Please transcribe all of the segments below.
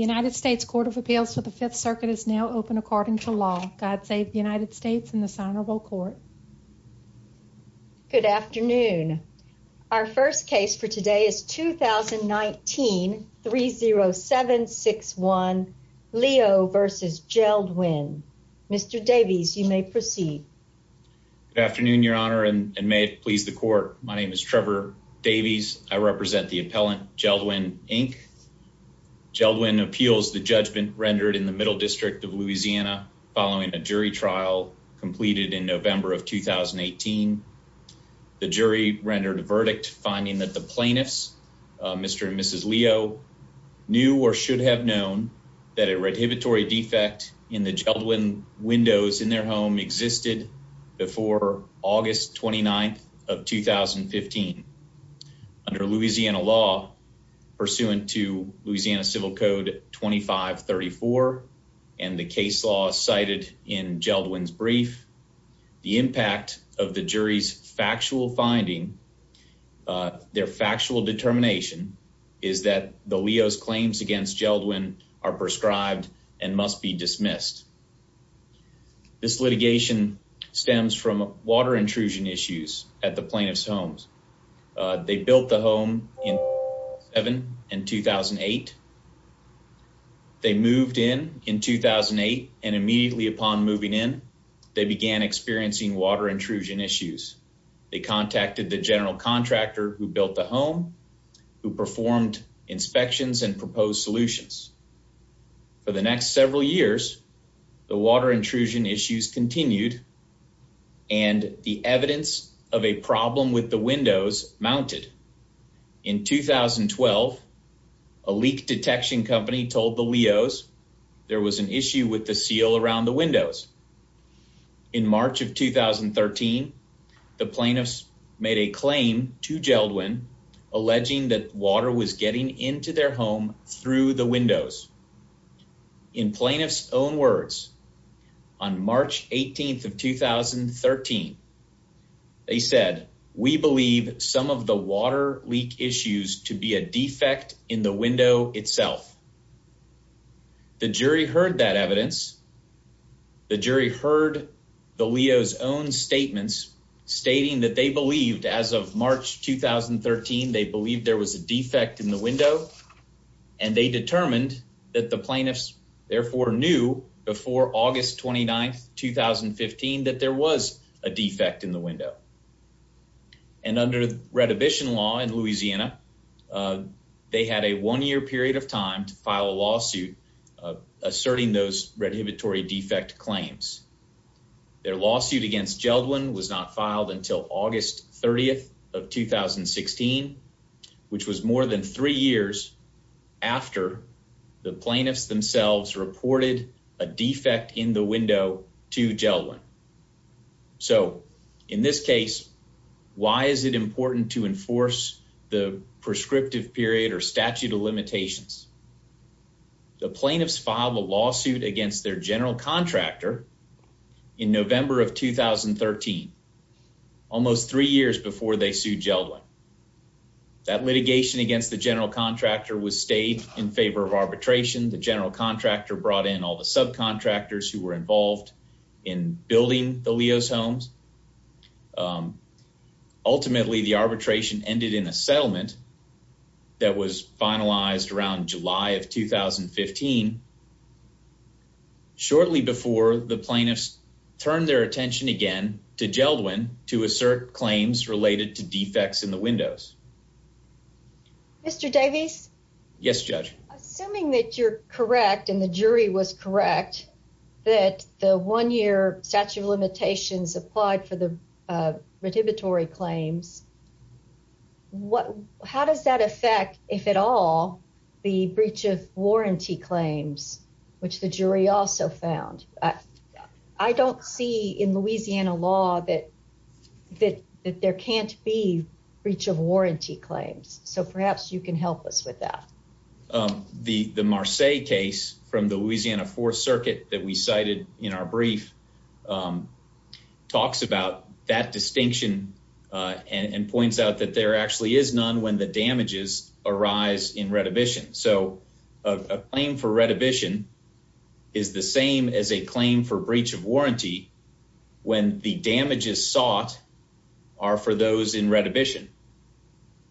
United States Court of Appeals for the Fifth Circuit is now open according to law. God save the United States and the Senate will court. Good afternoon. Our first case for today is 2019 30761 Leo v. Jeld-Wen. Mr Davies, you may proceed. Afternoon, Your Honor, and may it please the court. My name is Trevor Davies. I appeals the judgment rendered in the Middle District of Louisiana following a jury trial completed in November of 2018. The jury rendered a verdict, finding that the plaintiffs, Mr and Mrs Leo, knew or should have known that a redhibitory defect in the Jeld-Wen windows in their home existed before August 29th of 2015. Under Louisiana law, pursuant to Louisiana Civil Code 2534 and the case law cited in Jeld-Wen's brief, the impact of the jury's factual finding, their factual determination, is that the Leo's claims against Jeld-Wen are prescribed and must be dismissed. This litigation stems from water intrusion issues at the plaintiff's homes. They built the home in 2007 and 2008. They moved in in 2008, and immediately upon moving in, they began experiencing water intrusion issues. They contacted the general contractor who built the home, who performed inspections and proposed solutions. For the next several years, the water intrusion issues continued, and the evidence of a problem with the windows mounted. In 2012, a leak detection company told the Leo's there was an issue with the seal around the windows. In March of 2013, the plaintiffs made a claim to Jeld-Wen, alleging that water was getting into their home through the windows. In plaintiff's own words, on March 18th of 2013, they said, We believe some of the water leak issues to be a defect in the window itself. The jury heard that evidence. The jury heard the Leo's own statements, stating that they believed as of March 2013 they believed there was a defect in the window, and they determined that the plaintiffs therefore knew before August 29th 2015 that there was a defect in the window. And under redhibition law in Louisiana, uh, they had a one year period of time to file a lawsuit asserting those redhibitory defect claims. Their lawsuit against Jeld-Wen was not filed until August 30th of 2016, which was more than three years after the plaintiffs themselves reported a defect in the window to Jeld-Wen. So in this case, why is it important to enforce the prescriptive period or statute of limitations? The plaintiffs filed a lawsuit against their general contractor in November of 2013, almost three years before they sued Jeld-Wen. That litigation against the general contractor was stayed in favor of arbitration. The general contractor brought in all the subcontractors who were involved in building the Leo's homes. Um, ultimately, the arbitration ended in a settlement that was finalized around July of 2015 shortly before the plaintiffs turned their attention again to Jeld-Wen to assert claims related to defects in the windows. Mr Davies? Yes, Judge. Assuming that you're correct, and the jury was correct that the one year statute of limitations applied for the redhibitory claims. What? How does that affect, if at all, the breach of warranty claims, which the jury also found? I don't see in Louisiana law that that that there can't be breach of warranty claims. So perhaps you can help us with that. Um, the Marseilles case from the Louisiana Fourth Circuit that we cited in our brief, um, talks about that distinction and points out that there actually is none when the damages arise in redhibition. So a claim for redhibition is the same as a claim for breach of warranty when the damages sought are for those in redhibition.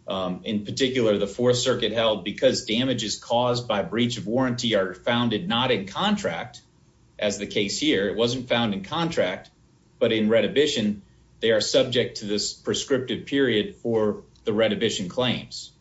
In particular, the Fourth Circuit held because damages caused by breach of warranty are founded not in contract. As the case here, it wasn't found in scripted period for the redhibition claims.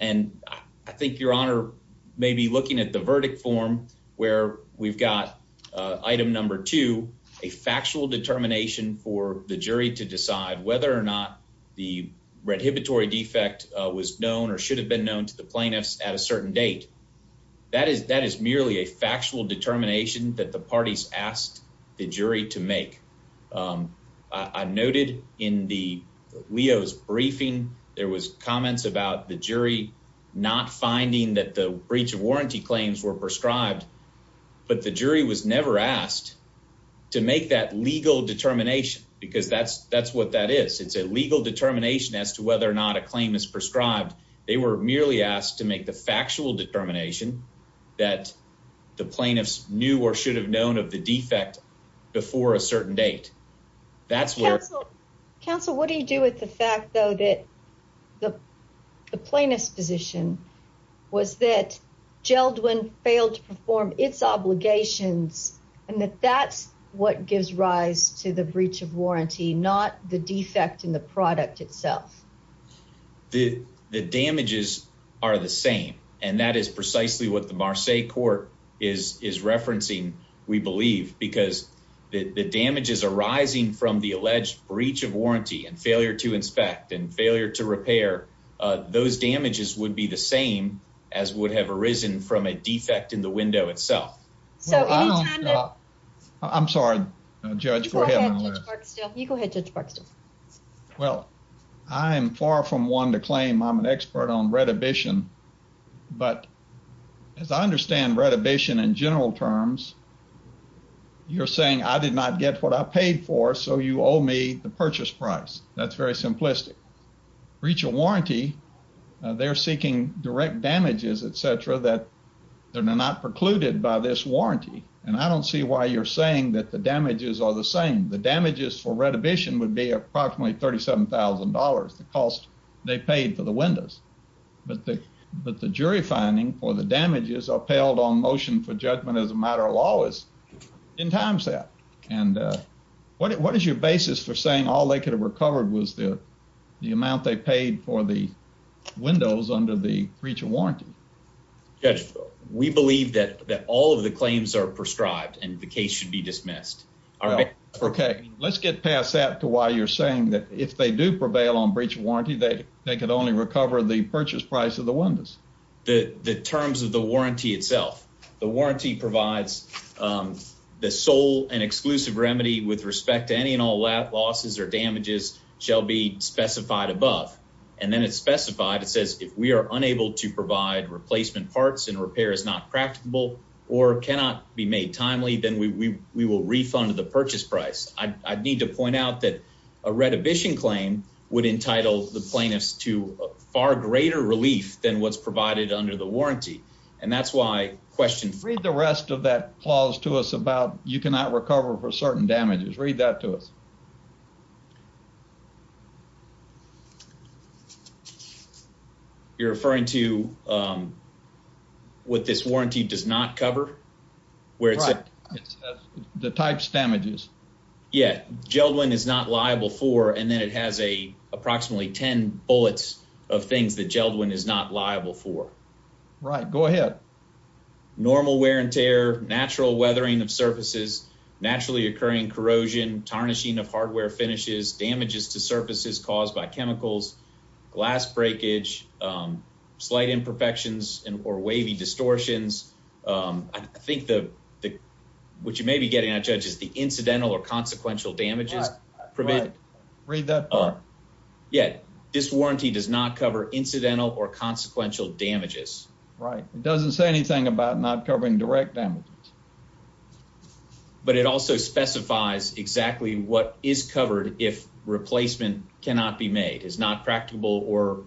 And I think your honor may be looking at the verdict form where we've got item number two, a factual determination for the jury to decide whether or not the redhibitory defect was known or should have been known to the plaintiffs at a certain date. That is. That is merely a factual determination that the parties asked the jury to make. Um, I noted in the Leo's briefing there was comments about the jury not finding that the breach of warranty claims were prescribed, but the jury was never asked to make that legal determination because that's that's what that is. It's a legal determination as to whether or not a claim is prescribed. They were merely asked to make the factual determination that the plaintiffs knew or should have known of the defect before a certain date. That's where Council. What do you do with the fact, though, that the plaintiff's position was that Geldwin failed to perform its obligations and that that's what gives rise to the breach of warranty, not the defect in product itself? The damages are the same, and that is precisely what the Marseilles court is is referencing, we believe, because the damages arising from the alleged breach of warranty and failure to inspect and failure to repair those damages would be the same as would have arisen from a defect in the window itself. So I'm sorry, Judge. Go ahead. You go ahead. Judge Park Well, I'm far from one to claim I'm an expert on redhibition. But as I understand redhibition in general terms, you're saying I did not get what I paid for. So you owe me the purchase price. That's very simplistic breach of warranty. They're seeking direct damages, etcetera, that they're not precluded by this warranty. And I don't see why you're saying that the damages are the same. The damages for approximately $37,000 the cost they paid for the windows. But the but the jury finding for the damages upheld on motion for judgment as a matter of law is in time set. And what is your basis for saying all they could have recovered was the amount they paid for the windows under the breach of warranty? Judge, we believe that all of the claims are prescribed and the case should be dismissed. Okay, let's get past that to why you're saying that if they do prevail on breach of warranty, that they could only recover the purchase price of the windows. The terms of the warranty itself. The warranty provides, um, the sole and exclusive remedy with respect to any and all that losses or damages shall be specified above. And then it's specified. It says if we are unable to provide replacement parts and repair is not practical or cannot be made timely, then we will refund the purchase price. I'd need to point out that a retribution claim would entitle the plaintiffs to far greater relief than what's provided under the warranty. And that's why questions read the rest of that clause to us about you cannot recover for certain damages. Read that to us. You're referring to, um, what this warranty does not cover where it's the types damages. Yeah, Geldwin is not liable for. And then it has a approximately 10 bullets of things that Geldwin is not liable for. Right. Go ahead. Normal wear and tear, natural weathering of surfaces, naturally occurring corrosion, tarnishing of hardware finishes, damages to surfaces caused by chemicals, glass breakage, um, slight imperfections and or wavy distortions. Um, I think the the what you may be getting a judge is the incidental or consequential damages prevented. Read that part. Yeah, this warranty does not cover incidental or consequential damages, right? It doesn't say anything about not covering direct damage, but it also specifies exactly what is covered. If replacement cannot be made is not practical or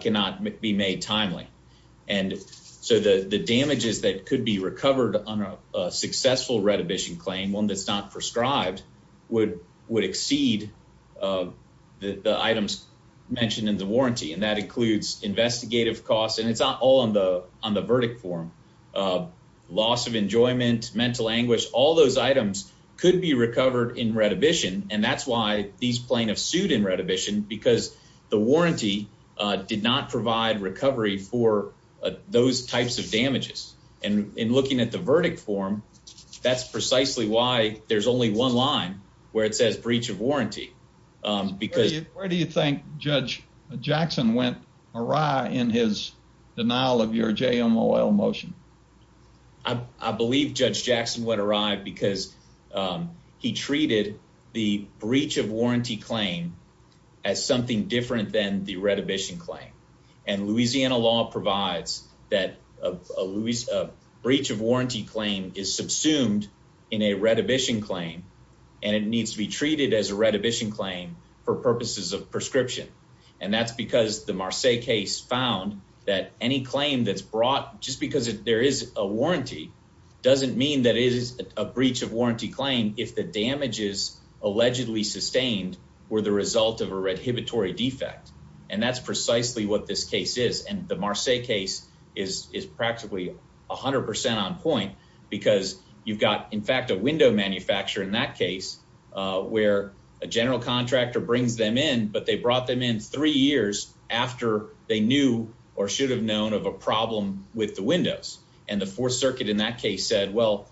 cannot be made timely. And so the damages that could be recovered on a successful retribution claim, one that's not prescribed would would exceed, uh, the items mentioned in the warranty. And that includes investigative costs, and it's not all on the on the verdict form of loss of enjoyment, mental anguish. All those items could be recovered in retribution. And that's why these plaintiffs sued in retribution because the warranty did not provide recovery for those types of damages. And in looking at the verdict form, that's precisely why there's only one line where it says breach of warranty. Um, because where do you think Judge Jackson went awry in his denial of your J. M. O. L. Motion? I believe Judge Jackson went awry because, um, he treated the breach of as something different than the retribution claim. And Louisiana law provides that of Louise of breach of warranty claim is subsumed in a retribution claim, and it needs to be treated as a retribution claim for purposes of prescription. And that's because the Marseilles case found that any claim that's brought just because there is a warranty doesn't mean that it is a breach of warranty claim. If the damages allegedly sustained were the result of a red inhibitory defect, and that's precisely what this case is. And the Marseilles case is practically 100% on point because you've got, in fact, a window manufacturer in that case where a general contractor brings them in. But they brought them in three years after they knew or should have known of a problem with the windows. And the Fourth Circuit in that case said, Well,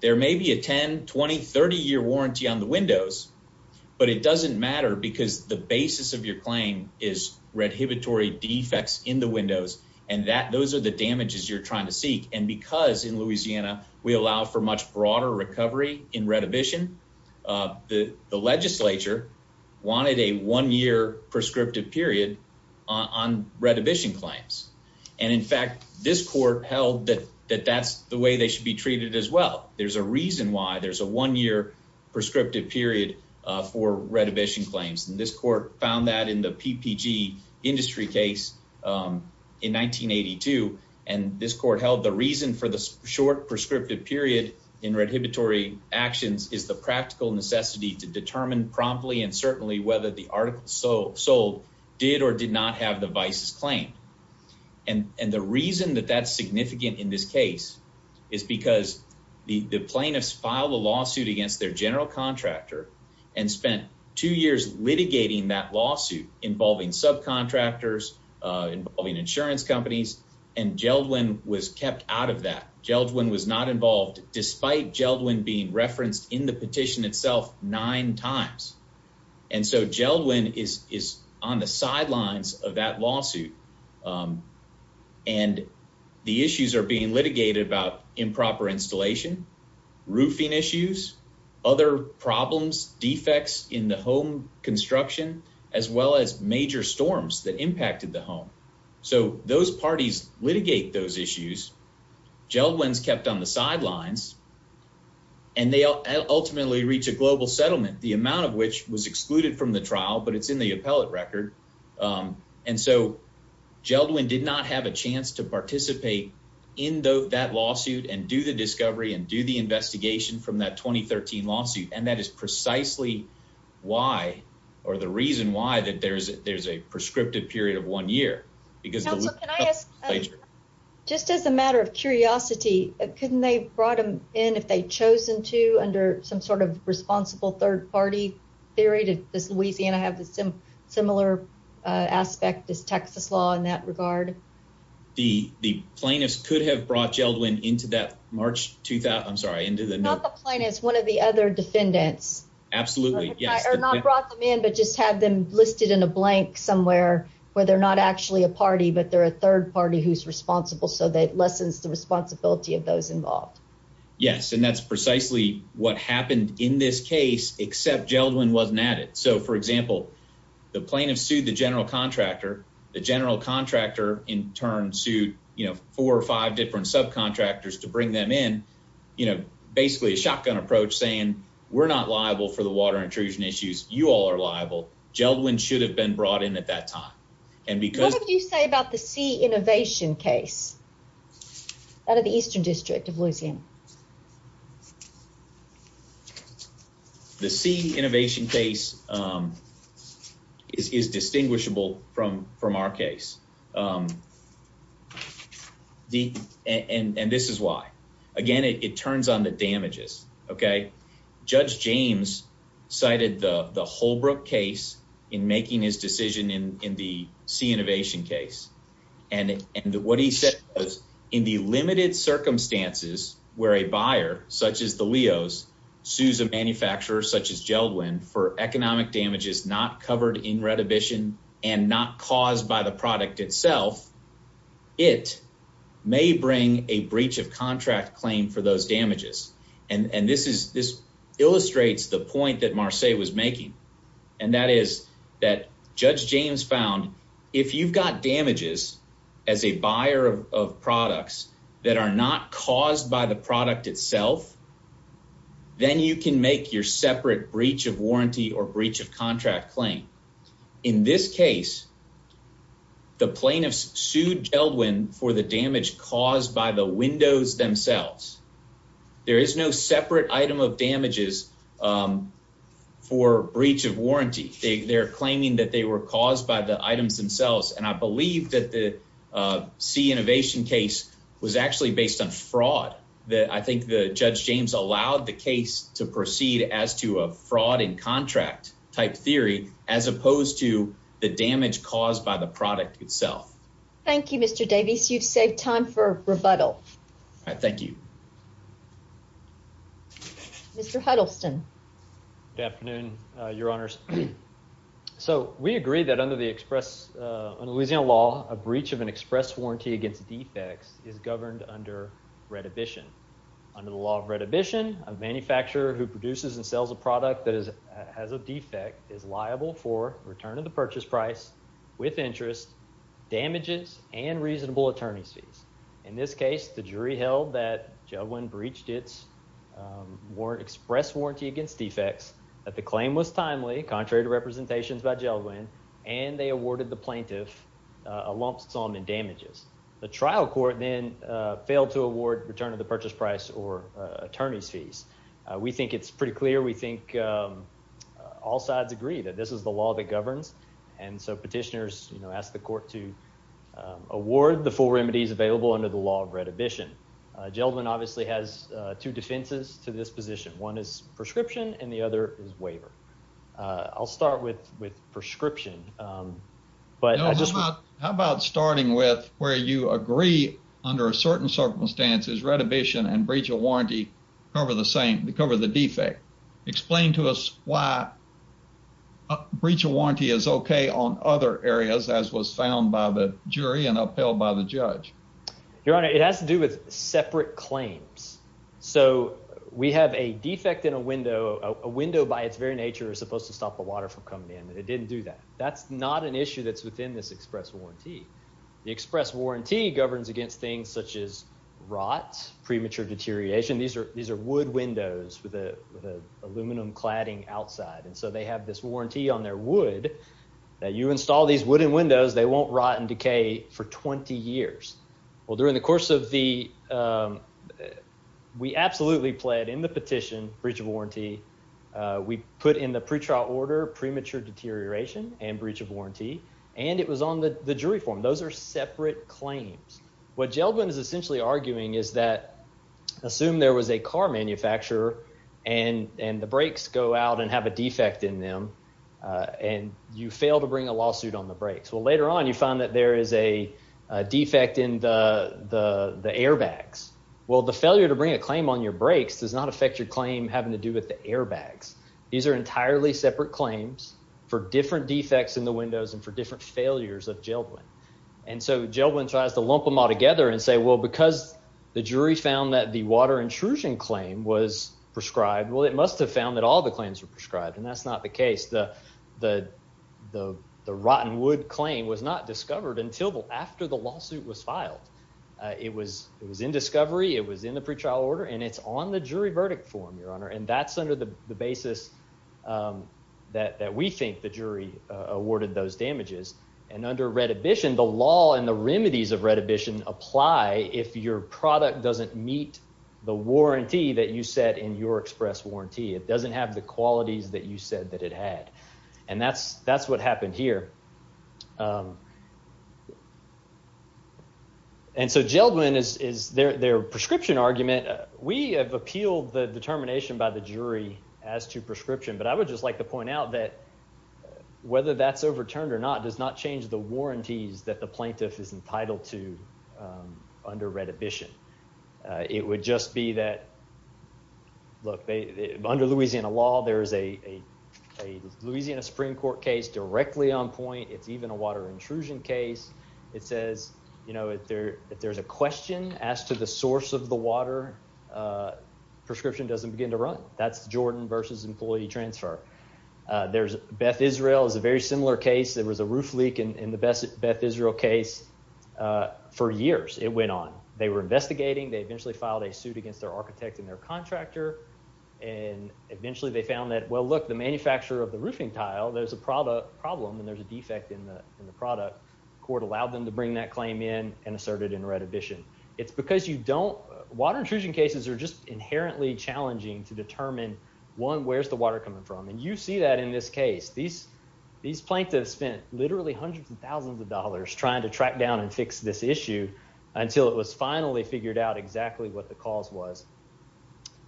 there may be a 10 2030 year warranty on the windows, but it doesn't matter because the basis of your claim is red inhibitory defects in the windows, and that those are the damages you're trying to seek. And because in Louisiana we allow for much broader recovery in retribution, uh, the Legislature wanted a one year prescriptive period on retribution claims. And, in fact, this be treated as well. There's a reason why there's a one year prescriptive period for retribution claims, and this court found that in the PPG industry case, um, in 1982. And this court held the reason for the short prescriptive period in red inhibitory actions is the practical necessity to determine promptly and certainly whether the article so sold did or did not have the vice's claim. And the reason that that's significant in this case is because the plaintiffs filed a lawsuit against their general contractor and spent two years litigating that lawsuit involving subcontractors involving insurance companies. And Geldwin was kept out of that. Geldwin was not involved, despite Geldwin being referenced in the petition itself nine times. And so Geldwin is is on the sidelines of that lawsuit. Um, and the issues are being litigated about improper installation, roofing issues, other problems, defects in the home construction as well as major storms that impacted the home. So those parties litigate those issues. Geldwin's kept on the sidelines, and they ultimately reach a global settlement, the amount of which was excluded from the trial. But it's in the appellate record. Um, and so Geldwin did not have a chance to participate in that lawsuit and do the discovery and do the investigation from that 2013 lawsuit. And that is precisely why or the reason why that there's there's a prescriptive period of one year because also, can I ask? Just as a matter of curiosity, couldn't they brought him in if they chosen to under some sort of responsible third party theory to this? Louisiana have the similar aspect is Texas law in that regard. The plaintiffs could have brought Geldwin into that March 2000. I'm sorry into the plane. It's one of the other defendants. Absolutely. Yes, or not brought them in, but just have them listed in a blank somewhere where they're not actually a third party who's responsible. So that lessens the responsibility of those involved. Yes, and that's precisely what happened in this case, except Geldwin wasn't at it. So, for example, the plaintiff sued the general contractor. The general contractor in turn sued, you know, four or five different subcontractors to bring them in, you know, basically a shotgun approach, saying we're not liable for the water intrusion issues. You all are liable. Geldwin should have been brought in at that time. And because you say about the sea innovation case out of the eastern district of Louisiana, the sea innovation case, um, is is distinguishable from from our case. Um, the and this is why again it turns on the damages. Okay, Judge James cited the Holbrook case in making his decision in in the sea innovation case and and what he said in the limited circumstances where a buyer such as the Leo's Sousa manufacturers such as Geldwin for economic damage is not covered in retribution and not caused by the product itself. It may bring a breach of contract claim for those damages. And this is this illustrates the point that Marseille was making, and that is that Judge James found if you've got damages as a buyer of products that are not caused by the product itself, then you can make your separate breach of warranty or breach of contract claim. In this case, the plaintiffs sued Geldwin for the damage caused by the windows themselves. There is no separate item of damages, um, for breach of warranty. They're claiming that they were caused by the items themselves. And I believe that the sea innovation case was actually based on fraud that I think the Judge James allowed the case to proceed as to a fraud in contract type theory as opposed to the damage caused by the product itself. Thank you, Mr Davies. You've saved time for rebuttal. Thank you, Mr Huddleston. Good afternoon, your honors. So we agree that under the express Louisiana law, a breach of an express warranty against defects is governed under redhibition. Under the law of redhibition, a manufacturer who produces and sells a product that has a defect is liable for return of the In this case, the jury held that Geldwin breached its express warranty against defects, that the claim was timely, contrary to representations by Geldwin, and they awarded the plaintiff a lump sum in damages. The trial court then failed to award return of the purchase price or attorney's fees. We think it's pretty clear. We think all sides agree that this is the law that remedies available under the law of redhibition. Geldwin obviously has two defenses to this position. One is prescription, and the other is waiver. I'll start with with prescription. Um, but how about starting with where you agree? Under a certain circumstances, redhibition and breach of warranty cover the same to cover the defect. Explain to us why breach of warranty is okay on other areas, as was found by the jury and held by the judge. Your Honor, it has to do with separate claims. So we have a defect in a window. A window, by its very nature, is supposed to stop the water from coming in, and it didn't do that. That's not an issue that's within this express warranty. The express warranty governs against things such as rot, premature deterioration. These air. These air would windows with a aluminum cladding outside, and so they have this warranty on their wood that you install these wooden windows. They won't rot and decay for 20 years. Well, during the course of the, um, we absolutely pled in the petition breach of warranty. We put in the pretrial order premature deterioration and breach of warranty, and it was on the jury form. Those air separate claims. What Geldwin is essentially arguing is that assume there was a car manufacturer and and the brakes go out and have a defect in them on you fail to bring a lawsuit on the brakes. Well, later on, you find that there is a defect in the air bags. Well, the failure to bring a claim on your brakes does not affect your claim having to do with the air bags. These air entirely separate claims for different defects in the windows and for different failures of Geldwin. And so Geldwin tries to lump them all together and say, Well, because the jury found that the water intrusion claim was prescribed, well, it must have found that all the claims were prescribed, and that's not the case. The the the rotten wood claim was not discovered until after the lawsuit was filed. It was. It was in discovery. It was in the pretrial order, and it's on the jury verdict form, Your Honor. And that's under the basis, um, that we think the jury awarded those damages and under retribution, the law and the remedies of retribution apply if your product doesn't meet the warranty. It doesn't have the qualities that you said that it had. And that's that's what happened here. Um, and so Geldwin is their prescription argument. We have appealed the determination by the jury as to prescription, but I would just like to point out that whether that's overturned or not does not change the warranties that the plaintiff is entitled to under retribution. It would just be that, look, under Louisiana law, there is a Louisiana Supreme Court case directly on point. It's even a water intrusion case. It says, you know, if there if there's a question as to the source of the water prescription doesn't begin to run. That's Jordan versus employee transfer. There's Beth Israel. It's a very similar case. There was a roof leak in the Beth Israel case for years. It went on. They were investigating. They eventually filed a suit against their architect and their contractor, and eventually they found that, well, look, the manufacturer of the roofing tile, there's a product problem and there's a defect in the in the product. Court allowed them to bring that claim in and asserted in retribution. It's because you don't, water intrusion cases are just inherently challenging to determine, one, where's the water coming from? And you see that in this case. These these plaintiffs spent literally hundreds of thousands of dollars trying to track down and fix this issue until it was finally figured out exactly what the cause was.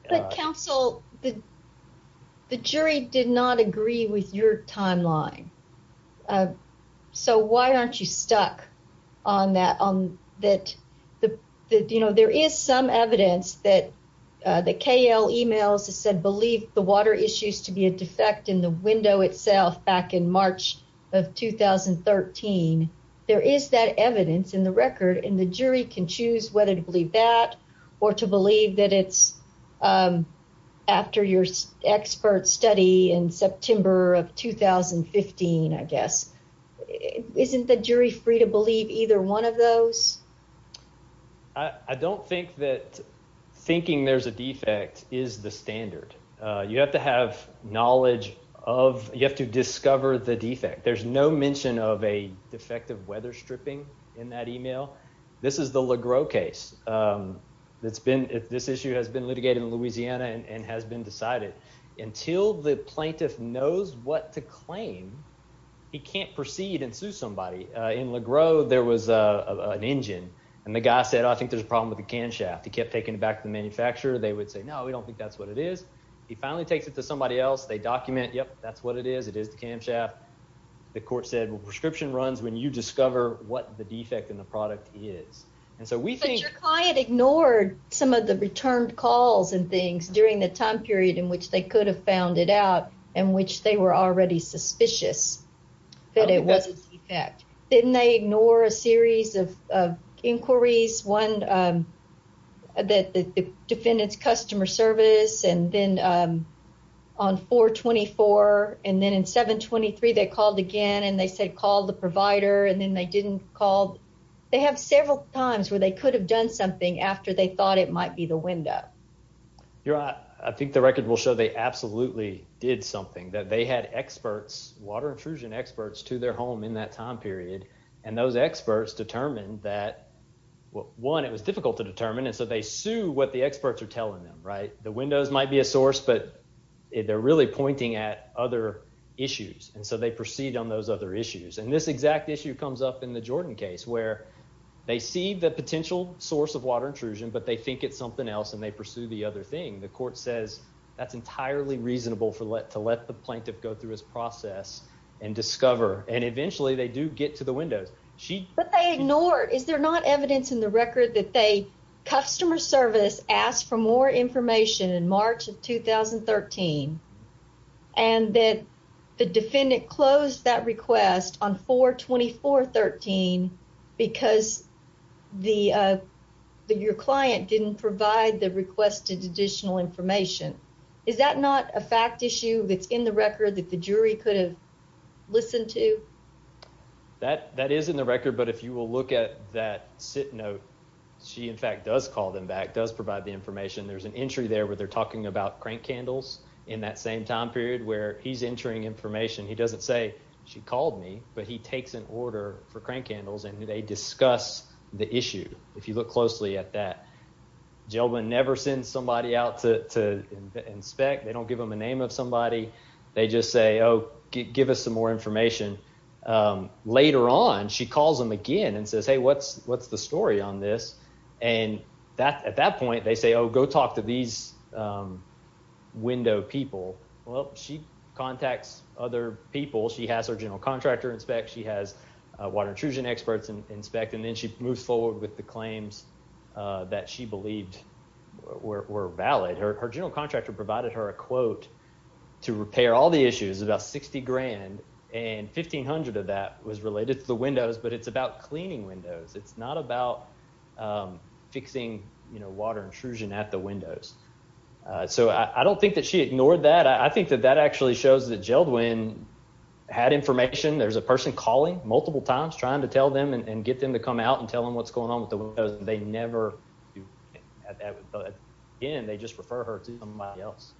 But counsel, the jury did not agree with your timeline. Uh, so why aren't you stuck on that on that? You know, there is some evidence that the KL emails said, believe the water issues to be a defect in the window itself. Back in March of 2013, there is that evidence in the record, and the jury can choose whether to believe that or to believe that it's, um, after your expert study in September of 2015, I guess. Isn't the jury free to believe either one of those? I don't think that thinking there's a defect is the standard. You have to have knowledge of, you have to discover the defect. There's no mention of a defective weather stripping in that email. This is the Legro case. It's been, this issue has been litigated in Louisiana and has been decided. Until the plaintiff knows what to claim, he can't proceed and sue somebody. In Legro, there was an engine, and the guy said, I think there's a problem with the can shaft. He kept taking it back to the manufacturer. They would say, no, we don't think that's what it is. He finally takes it to somebody else. They document, yep, that's what it is. It is the can shaft. The court said, well, prescription runs when you discover what the defect in the product is. And so we think- But your client ignored some of the returned calls and things during the time period in which they could have found it out, in which they were already suspicious that it was a defect. Didn't they ignore a series of inquiries? One, the defendant's customer service, and then on 4-24, and then in 7-23, they called again, and they said call the provider, and then they didn't call. They have several times where they could have done something after they thought it might be the window. I think the record will show they absolutely did something, that they had experts, water intrusion experts, to their home in that time period, and those experts determined that, one, it was difficult to determine, and so they sue what the experts are telling them. The windows might be a source, but they're really pointing at other issues, and so they proceed on those other issues. And this exact issue comes up in the Jordan case, where they see the potential source of water intrusion, but they think it's something else, and they pursue the other thing. The court says that's entirely reasonable to let the plaintiff go through his process and discover, and eventually they do get to the windows. But they ignore, is there not evidence in the record that they, customer service, asked for more information in March of 2013, and that the defendant closed that request on 4-24-13 because your client didn't provide the requested additional information? Is that not a fact issue that's in the record, that the jury could have listened to? That is in the record, but if you will look at that sit note, she in fact does call them back, does provide the information. There's an entry there where they're talking about crank candles in that same time period, where he's entering information. He doesn't say, she called me, but he takes an order for crank candles, and they discuss the issue, if you look closely at that. Jailman never sends somebody out to inspect. They don't give them a name of give us some more information. Later on, she calls them again and says, hey, what's the story on this? And at that point, they say, oh, go talk to these window people. Well, she contacts other people. She has her general contractor inspect. She has water intrusion experts inspect, and then she moves forward with the claims that she believed were valid. Her general and 1,500 of that was related to the windows, but it's about cleaning windows. It's not about, um, fixing, you know, water intrusion at the windows. So I don't think that she ignored that. I think that that actually shows that Jaildwin had information. There's a person calling multiple times trying to tell them and get them to come out and tell them what's going on with the windows. They never do. But again, they just refer her to somebody else.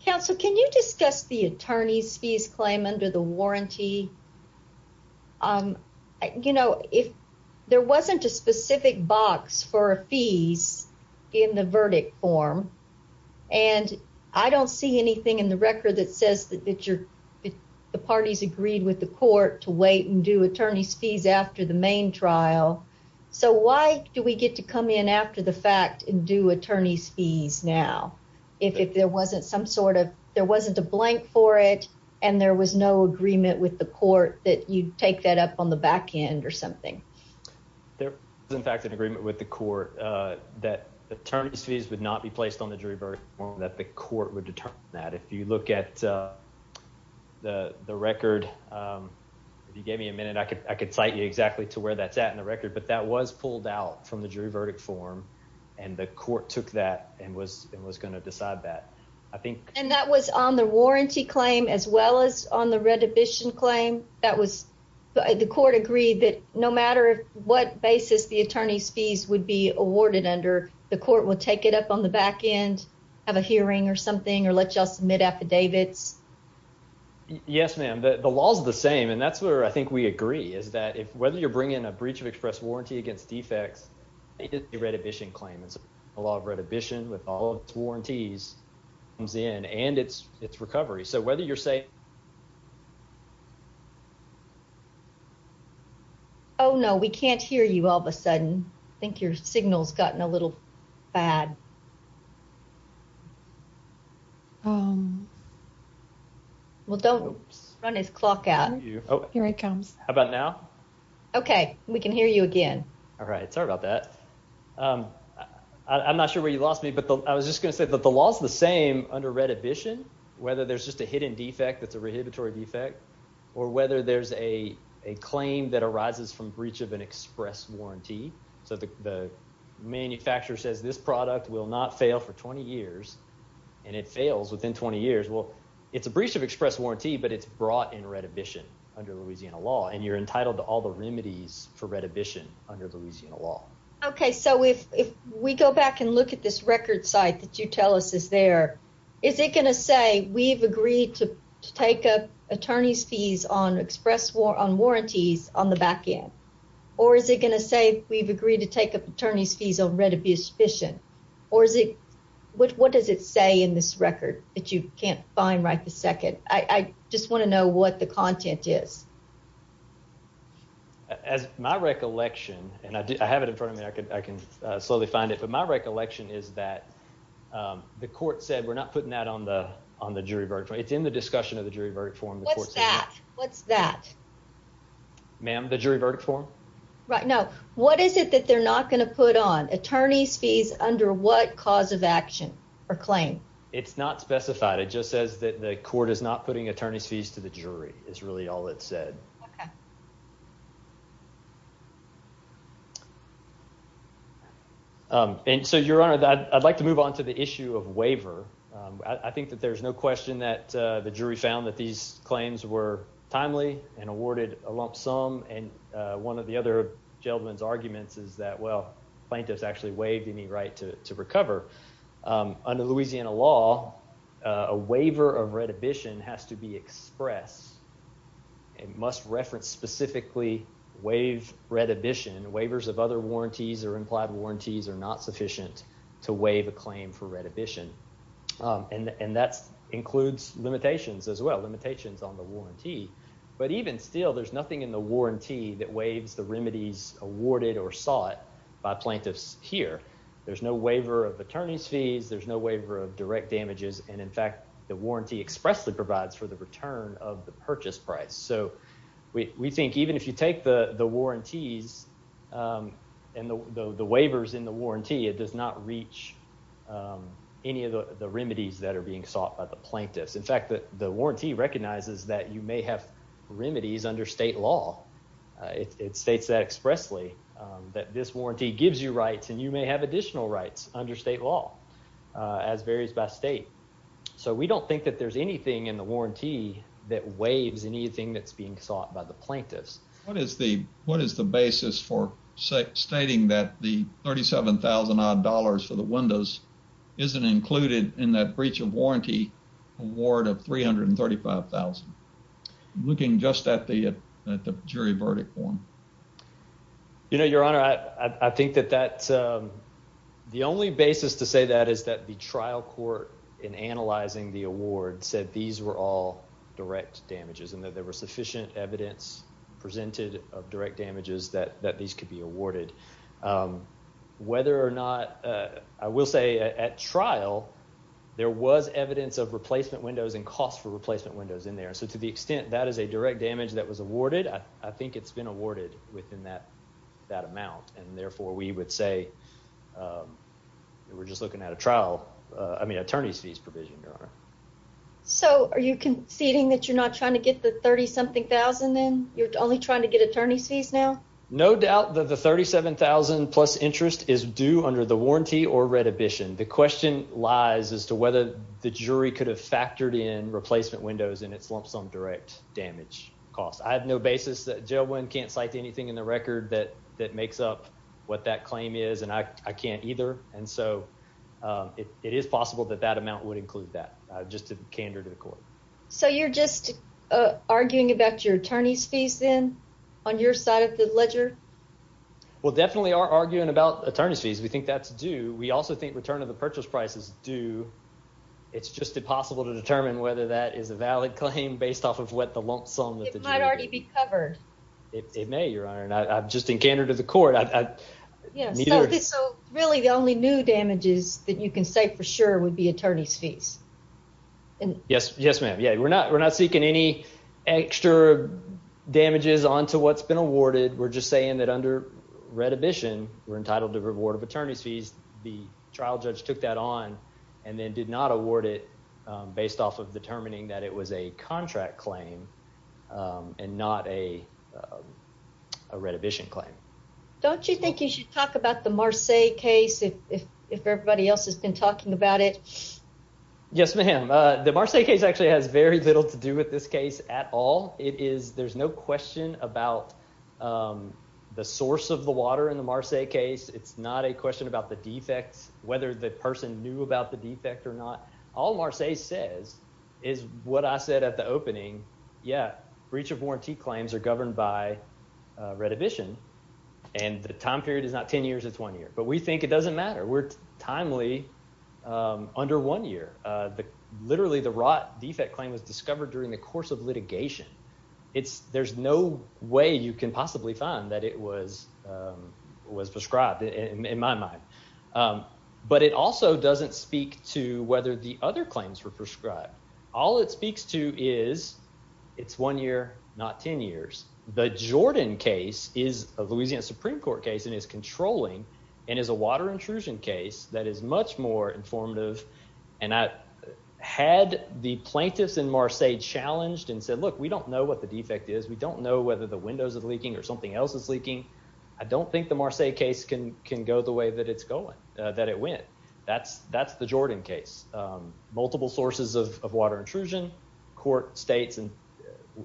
Counsel, can you discuss the attorney's fees claim under the warranty? Um, you know, if there wasn't a specific box for a fees in the verdict form, and I don't see anything in the record that says that you're the parties agreed with the court to wait and do attorney's fees after the main trial. So why do we get to come in after the fact and do attorney's fees? Now, if if there wasn't some sort of there wasn't a blank for it, and there was no agreement with the court that you take that up on the back end or something, there is, in fact, an agreement with the court that attorneys fees would not be placed on the jury version that the court would determine that. If you look at, uh, the record, um, you gave me a minute. I could. I could cite exactly to where that's at in the record. But that was pulled out from the jury verdict form, and the court took that and was was going to decide that, I think. And that was on the warranty claim as well as on the redhibition claim. That was the court agreed that no matter what basis the attorney's fees would be awarded under, the court will take it up on the back end, have a hearing or something, or let just submit affidavits. Yes, ma'am. The law is the same, and that's where I think we agree is that if whether you're bringing a breach of express warranty against defects, the redhibition claim is a law of redhibition with all its warranties comes in and it's recovery. So whether you're saying Oh, no, we can't hear you all of a sudden. I think your signals gotten a little bad. Um, well, don't run his clock out. Here it comes. How about now? Okay, we can hear you again. All right. Sorry about that. Um, I'm not sure where you lost me, but I was just gonna say that the law is the same under redhibition, whether there's just a hidden defect that's a rehabilitory defect or whether there's a claim that arises from breach of an express warranty. So the manufacturer says this product will not fail for 20 years, and it fails within 20 years. Well, it's a breach of express warranty, but it's brought in redhibition under Louisiana law, and you're entitled to all the remedies for redhibition under Louisiana law. Okay, so if we go back and look at this record site that you tell us is there, is it gonna say we've agreed to take up attorney's fees on express war on warranties on the back end? Or is it gonna say we've agreed to or is it? What? What does it say in this record that you can't find right the second? I just want to know what the content is as my recollection, and I have it in front of me. I could I can slowly find it. But my recollection is that, um, the court said we're not putting that on the on the jury verdict. It's in the discussion of the jury verdict form. What's that? What's that? Ma'am, the jury verdict form right now. What is it that they're not gonna put on attorney's fees? Under what cause of action or claim? It's not specified. It just says that the court is not putting attorney's fees to the jury is really all it said. Um, and so, Your Honor, I'd like to move on to the issue of waiver. I think that there's no question that the jury found that these claims were timely and awarded a lump sum. And one of the other gentleman's arguments is that, well, plaintiffs actually waived any right to recover. Um, under Louisiana law, a waiver of reddition has to be expressed. It must reference specifically waive reddition. Waivers of other warranties or implied warranties are not sufficient to waive a claim for reddition. Um, and and that includes limitations as well. Limitations on the warranty. But even still, there's awarded or sought by plaintiffs here. There's no waiver of attorney's fees. There's no waiver of direct damages. And in fact, the warranty expressly provides for the return of the purchase price. So we think even if you take the warranties, um, and the waivers in the warranty, it does not reach, um, any of the remedies that are being sought by the plaintiffs. In fact, the warranty recognizes that you may have remedies under state law. It states that expressly that this warranty gives you rights and you may have additional rights under state law as varies by state. So we don't think that there's anything in the warranty that waves anything that's being sought by the plaintiffs. What is the what is the basis for stating that the 37,000 odd dollars for the windows isn't included in that breach of warranty award of 335,000 looking just at the jury verdict form. You know, Your Honor, I think that that's, um, the only basis to say that is that the trial court in analyzing the award said these were all direct damages and that there were sufficient evidence presented of direct damages that that these could be awarded. Um, whether or not I will say at trial, there was evidence of replacement windows and cost for replacement windows in there. So to the extent that is a direct damage that was awarded, I think it's been awarded within that that amount. And therefore, we would say, um, we're just looking at a trial. I mean, attorney's fees provision, Your Honor. So are you conceding that you're not trying to get the 30 something thousand? Then you're only trying to get attorney's fees now. No doubt that the 37,000 plus interest is due under the warranty or red mission. The question lies as to whether the jury could have factored in replacement windows in its lump sum direct damage cost. I have no basis that jail one can't cite anything in the record that that makes up what that claim is, and I can't either. And so, uh, it is possible that that amount would include that just a candor to the court. So you're just arguing about your attorney's fees then on your side of the ledger? Well, definitely are arguing about attorney's fees. We think that's due. We also think return of the purchase prices do. It's just impossible to determine whether that is a valid claim based off of what the lump sum that might already be covered. It may, Your Honor. And I'm just in candor to the court. I mean, really, the only new damages that you can say for sure would be attorney's fees. Yes. Yes, ma'am. Yeah, we're not. We're not seeking any extra damages onto what's been awarded. We're just saying that under red admission, we're trial judge took that on and then did not award it based off of determining that it was a contract claim and not a reddition claim. Don't you think you should talk about the Marseilles case if everybody else has been talking about it? Yes, ma'am. The Marseilles case actually has very little to do with this case at all. It is. There's no question about, um, the source of the water in the Marseilles case. It's not a question about the defects, whether the person knew about the defect or not. All Marseilles says is what I said at the opening. Yeah, breach of warranty claims are governed by reddition, and the time period is not 10 years. It's one year, but we think it doesn't matter. We're timely under one year. Literally, the rot defect claim was discovered during the course of litigation. It's there's no way you can possibly find that it was prescribed in my mind. Um, but it also doesn't speak to whether the other claims were prescribed. All it speaks to is it's one year, not 10 years. The Jordan case is a Louisiana Supreme Court case and is controlling and is a water intrusion case that is much more informative. And I had the plaintiffs in Marseilles challenged and said, Look, we don't know what the defect is. We don't know whether the windows of leaking or something else is leaking. I think the case can can go the way that it's going that it went. That's that's the Jordan case. Multiple sources of water intrusion court states. And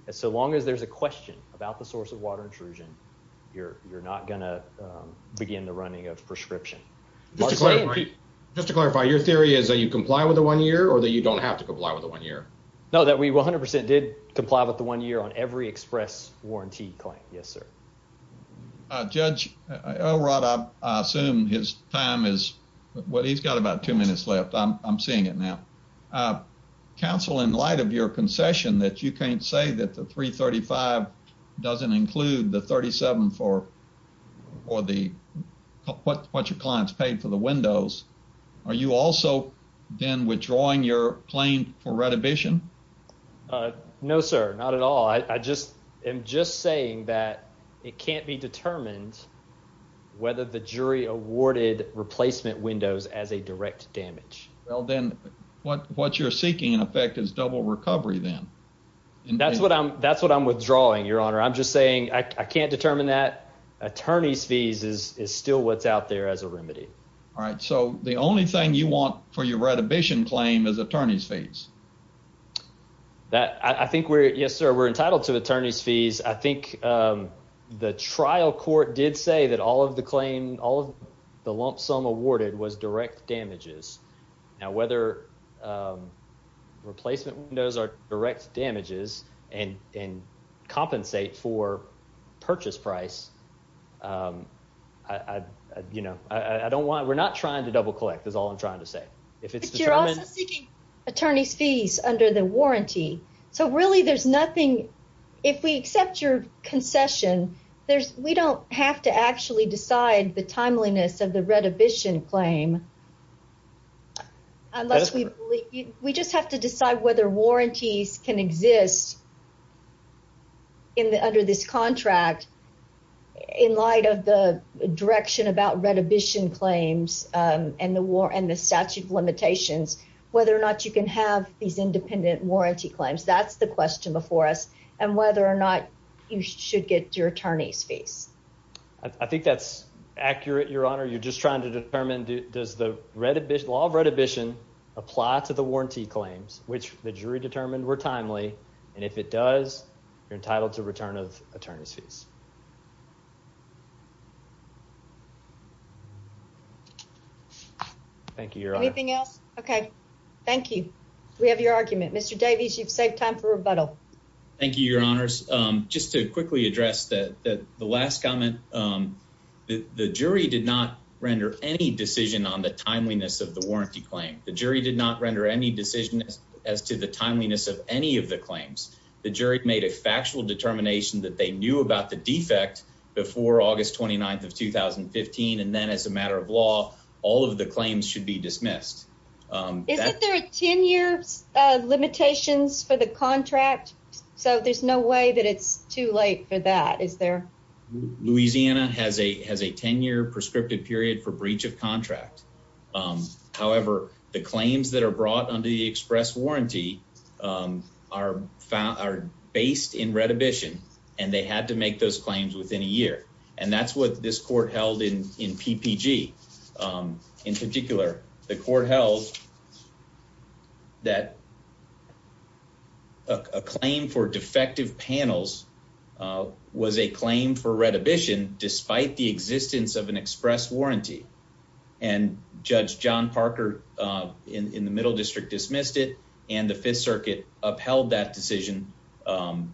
so long as there's a question about the source of water intrusion, you're not gonna begin the running of prescription. Just to clarify, your theory is that you comply with the one year or that you don't have to comply with the one year? No, that we 100% did comply with the one year on every express warranty claim. Yes, sir. Judge, I assume his time is what he's got about two minutes left. I'm seeing it now. Uh, counsel, in light of your concession that you can't say that the 3 35 doesn't include the 37 for or the what your clients paid for the windows. Are you also then withdrawing your claim for saying that it can't be determined whether the jury awarded replacement windows as a direct damage? Well, then what what you're seeking in effect is double recovery. Then that's what I'm That's what I'm withdrawing, Your Honor. I'm just saying I can't determine that attorney's fees is still what's out there as a remedy. All right, so the only thing you want for your retribution claim is attorney's fees that I think we're Yes, sir. We're entitled to attorney's fees. I think, um, the trial court did say that all of the claim all of the lump sum awarded was direct damages. Now, whether, um, replacement windows are direct damages and and compensate for purchase price. Um, I, you know, I don't want. We're not trying to double collect is all I'm trying to say. If it's you're also attorney's fees under the warranty. So really, there's nothing. If we accept your concession, there's we don't have to actually decide the timeliness of the retribution claim unless we we just have to decide whether warranties can exist in the under this contract. In light of the direction about retribution claims and the war and the statute limitations, whether or not you can have these independent warranty claims. That's the question before us. And whether or not you should get your attorney's face. I think that's accurate. Your honor, you're just trying to determine. Does the red law of retribution apply to the warranty claims, which the jury determined were timely? And if it does, you're entitled to return of attorney's fees. Thank you. Your anything else? Okay, thank you. We have your argument. Mr Davies, you've saved time for rebuttal. Thank you, your honors. Just to quickly address that the last comment, um, the jury did not render any decision on the timeliness of the warranty claim. The jury did not render any decision as to the timeliness of any of the claims. The jury made a factual determination that they knew about the defect before August 29th of 2015. And then, as a all of the claims should be dismissed. Um, there are 10 years limitations for the contract, so there's no way that it's too late for that. Is there? Louisiana has a has a 10 year prescriptive period for breach of contract. Um, however, the claims that are brought under the express warranty, um, are found are based in retribution, and they had to make those claims within a year. And that's what this court held in in P P G. Um, in particular, the court held that a claim for defective panels, uh, was a claim for retribution despite the existence of an express warranty. And Judge John Parker, uh, in the Middle District, dismissed it. And the Fifth Circuit upheld that decision, um,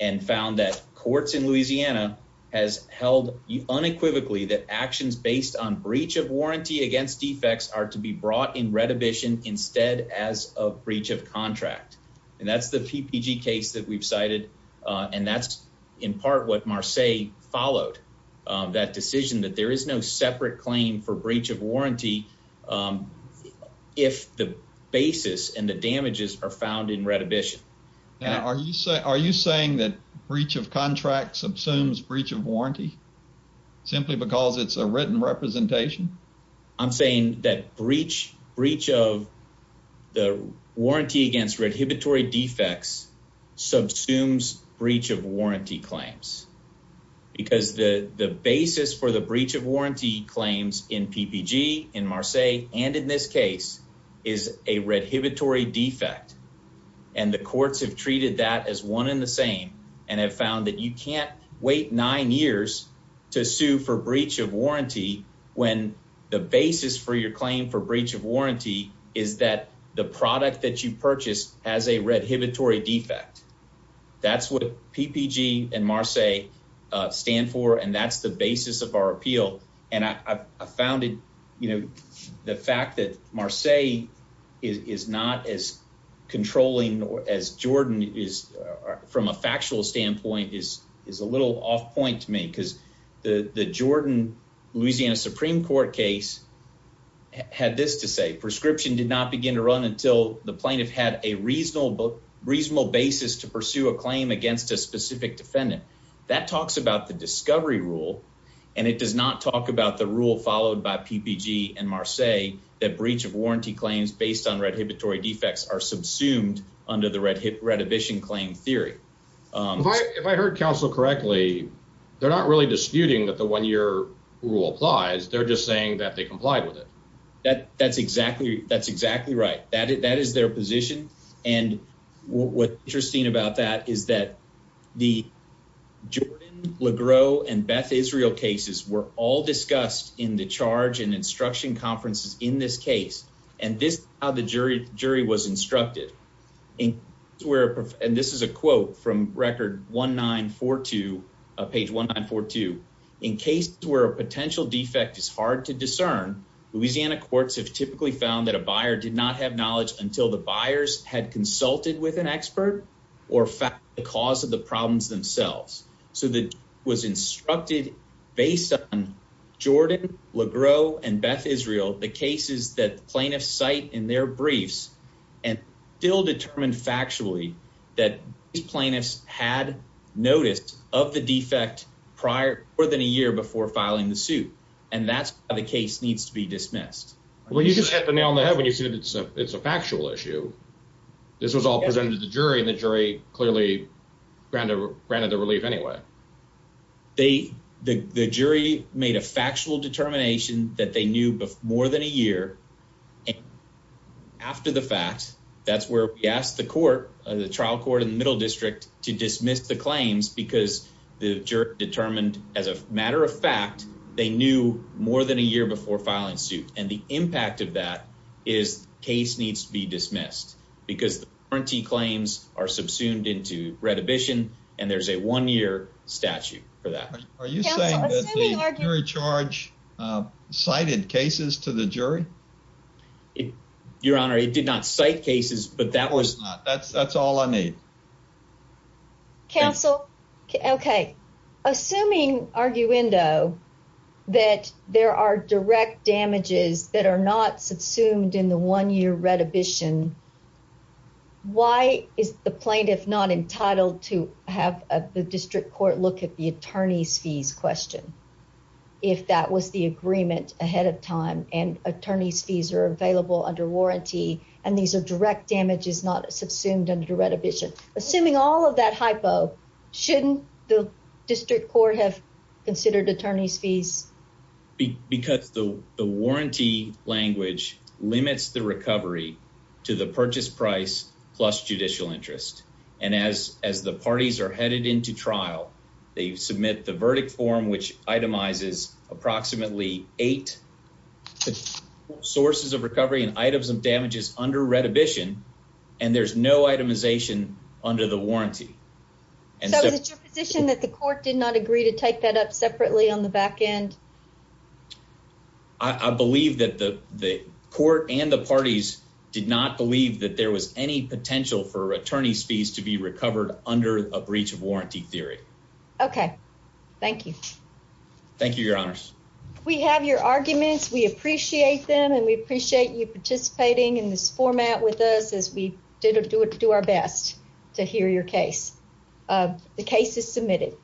and found that courts in Louisiana has held unequivocally that actions based on breach of warranty against defects are to be brought in retribution instead as a breach of contract. And that's the P P G case that we've cited. And that's in part what Marseille followed that decision that there is no separate claim for breach of warranty. Um, if the basis and the damages are found in breach of contract subsumes breach of warranty simply because it's a written representation. I'm saying that breach breach of the warranty against redhibitory defects subsumes breach of warranty claims because the basis for the breach of warranty claims in P P G in Marseille and in this case is a and have found that you can't wait nine years to sue for breach of warranty when the basis for your claim for breach of warranty is that the product that you purchased has a redhibitory defect. That's what P P G and Marseille stand for. And that's the basis of our appeal. And I found it. You know, the not as controlling as Jordan is from a factual standpoint is is a little off point to me because the Jordan Louisiana Supreme Court case had this to say. Prescription did not begin to run until the plaintiff had a reasonable reasonable basis to pursue a claim against a specific defendant. That talks about the discovery rule, and it does not talk about the rule followed by P P G and Marseille that breach of warranty claims based on redhibitory defects are subsumed under the red redhibition claim theory. If I heard counsel correctly, they're not really disputing that the one year rule applies. They're just saying that they complied with it. That that's exactly that's exactly right. That is their position. And what interesting about that is that the Jordan Legro and Beth Israel cases were all discussed in the charge and instruction conferences in this case, and this how the jury jury was instructed in where, and this is a quote from record 1942 page 1942. In cases where a potential defect is hard to discern, Louisiana courts have typically found that a buyer did not have knowledge until the buyers had consulted with an expert or fact because of the problems themselves. So was instructed based on Jordan Legro and Beth Israel, the cases that plaintiffs site in their briefs and still determined factually that plaintiffs had noticed of the defect prior more than a year before filing the suit. And that's how the case needs to be dismissed. Well, you just hit the nail on the head when you see that it's a factual issue. This was all presented to the jury, and the jury clearly granted granted the relief. Anyway, they the jury made a factual determination that they knew more than a year after the fact. That's where we asked the court of the trial court in the middle district to dismiss the claims because the jury determined as a matter of fact, they knew more than a year before filing suit. And the impact of that is case needs to be dismissed because the warranty claims are subsumed into retribution, and there's a one year statute for that. Are you saying that the jury charge cited cases to the jury? Your Honor, it did not cite cases, but that was that's that's all I need. Council. Okay. Assuming arguendo that there are direct damages that are not subsumed in the one year retribution. Why is the plaintiff not entitled to have the district court? Look at the attorney's fees question. If that was the agreement ahead of time and attorney's fees are available under warranty, and these air direct damage is not subsumed under retribution. Assuming all of that hypo shouldn't the district court have considered attorney's fees because the warranty language limits the recovery to the purchase price plus judicial interest. And as as the parties are headed into trial, they submit the verdict form, which itemizes approximately eight sources of recovery and items of damages under retribution, and there's no itemization under the warranty. And so it's your position that the court did not agree to take that up separately on the back end. I believe that the court and the parties did not believe that there was any potential for attorney's fees to be recovered under a breach of warranty theory. Okay. Thank you. Thank you, Your Honors. We have your arguments. We appreciate them, and we appreciate you participating in this format with us as we did do it to do our best to hear your case. Uh, the case is submitted.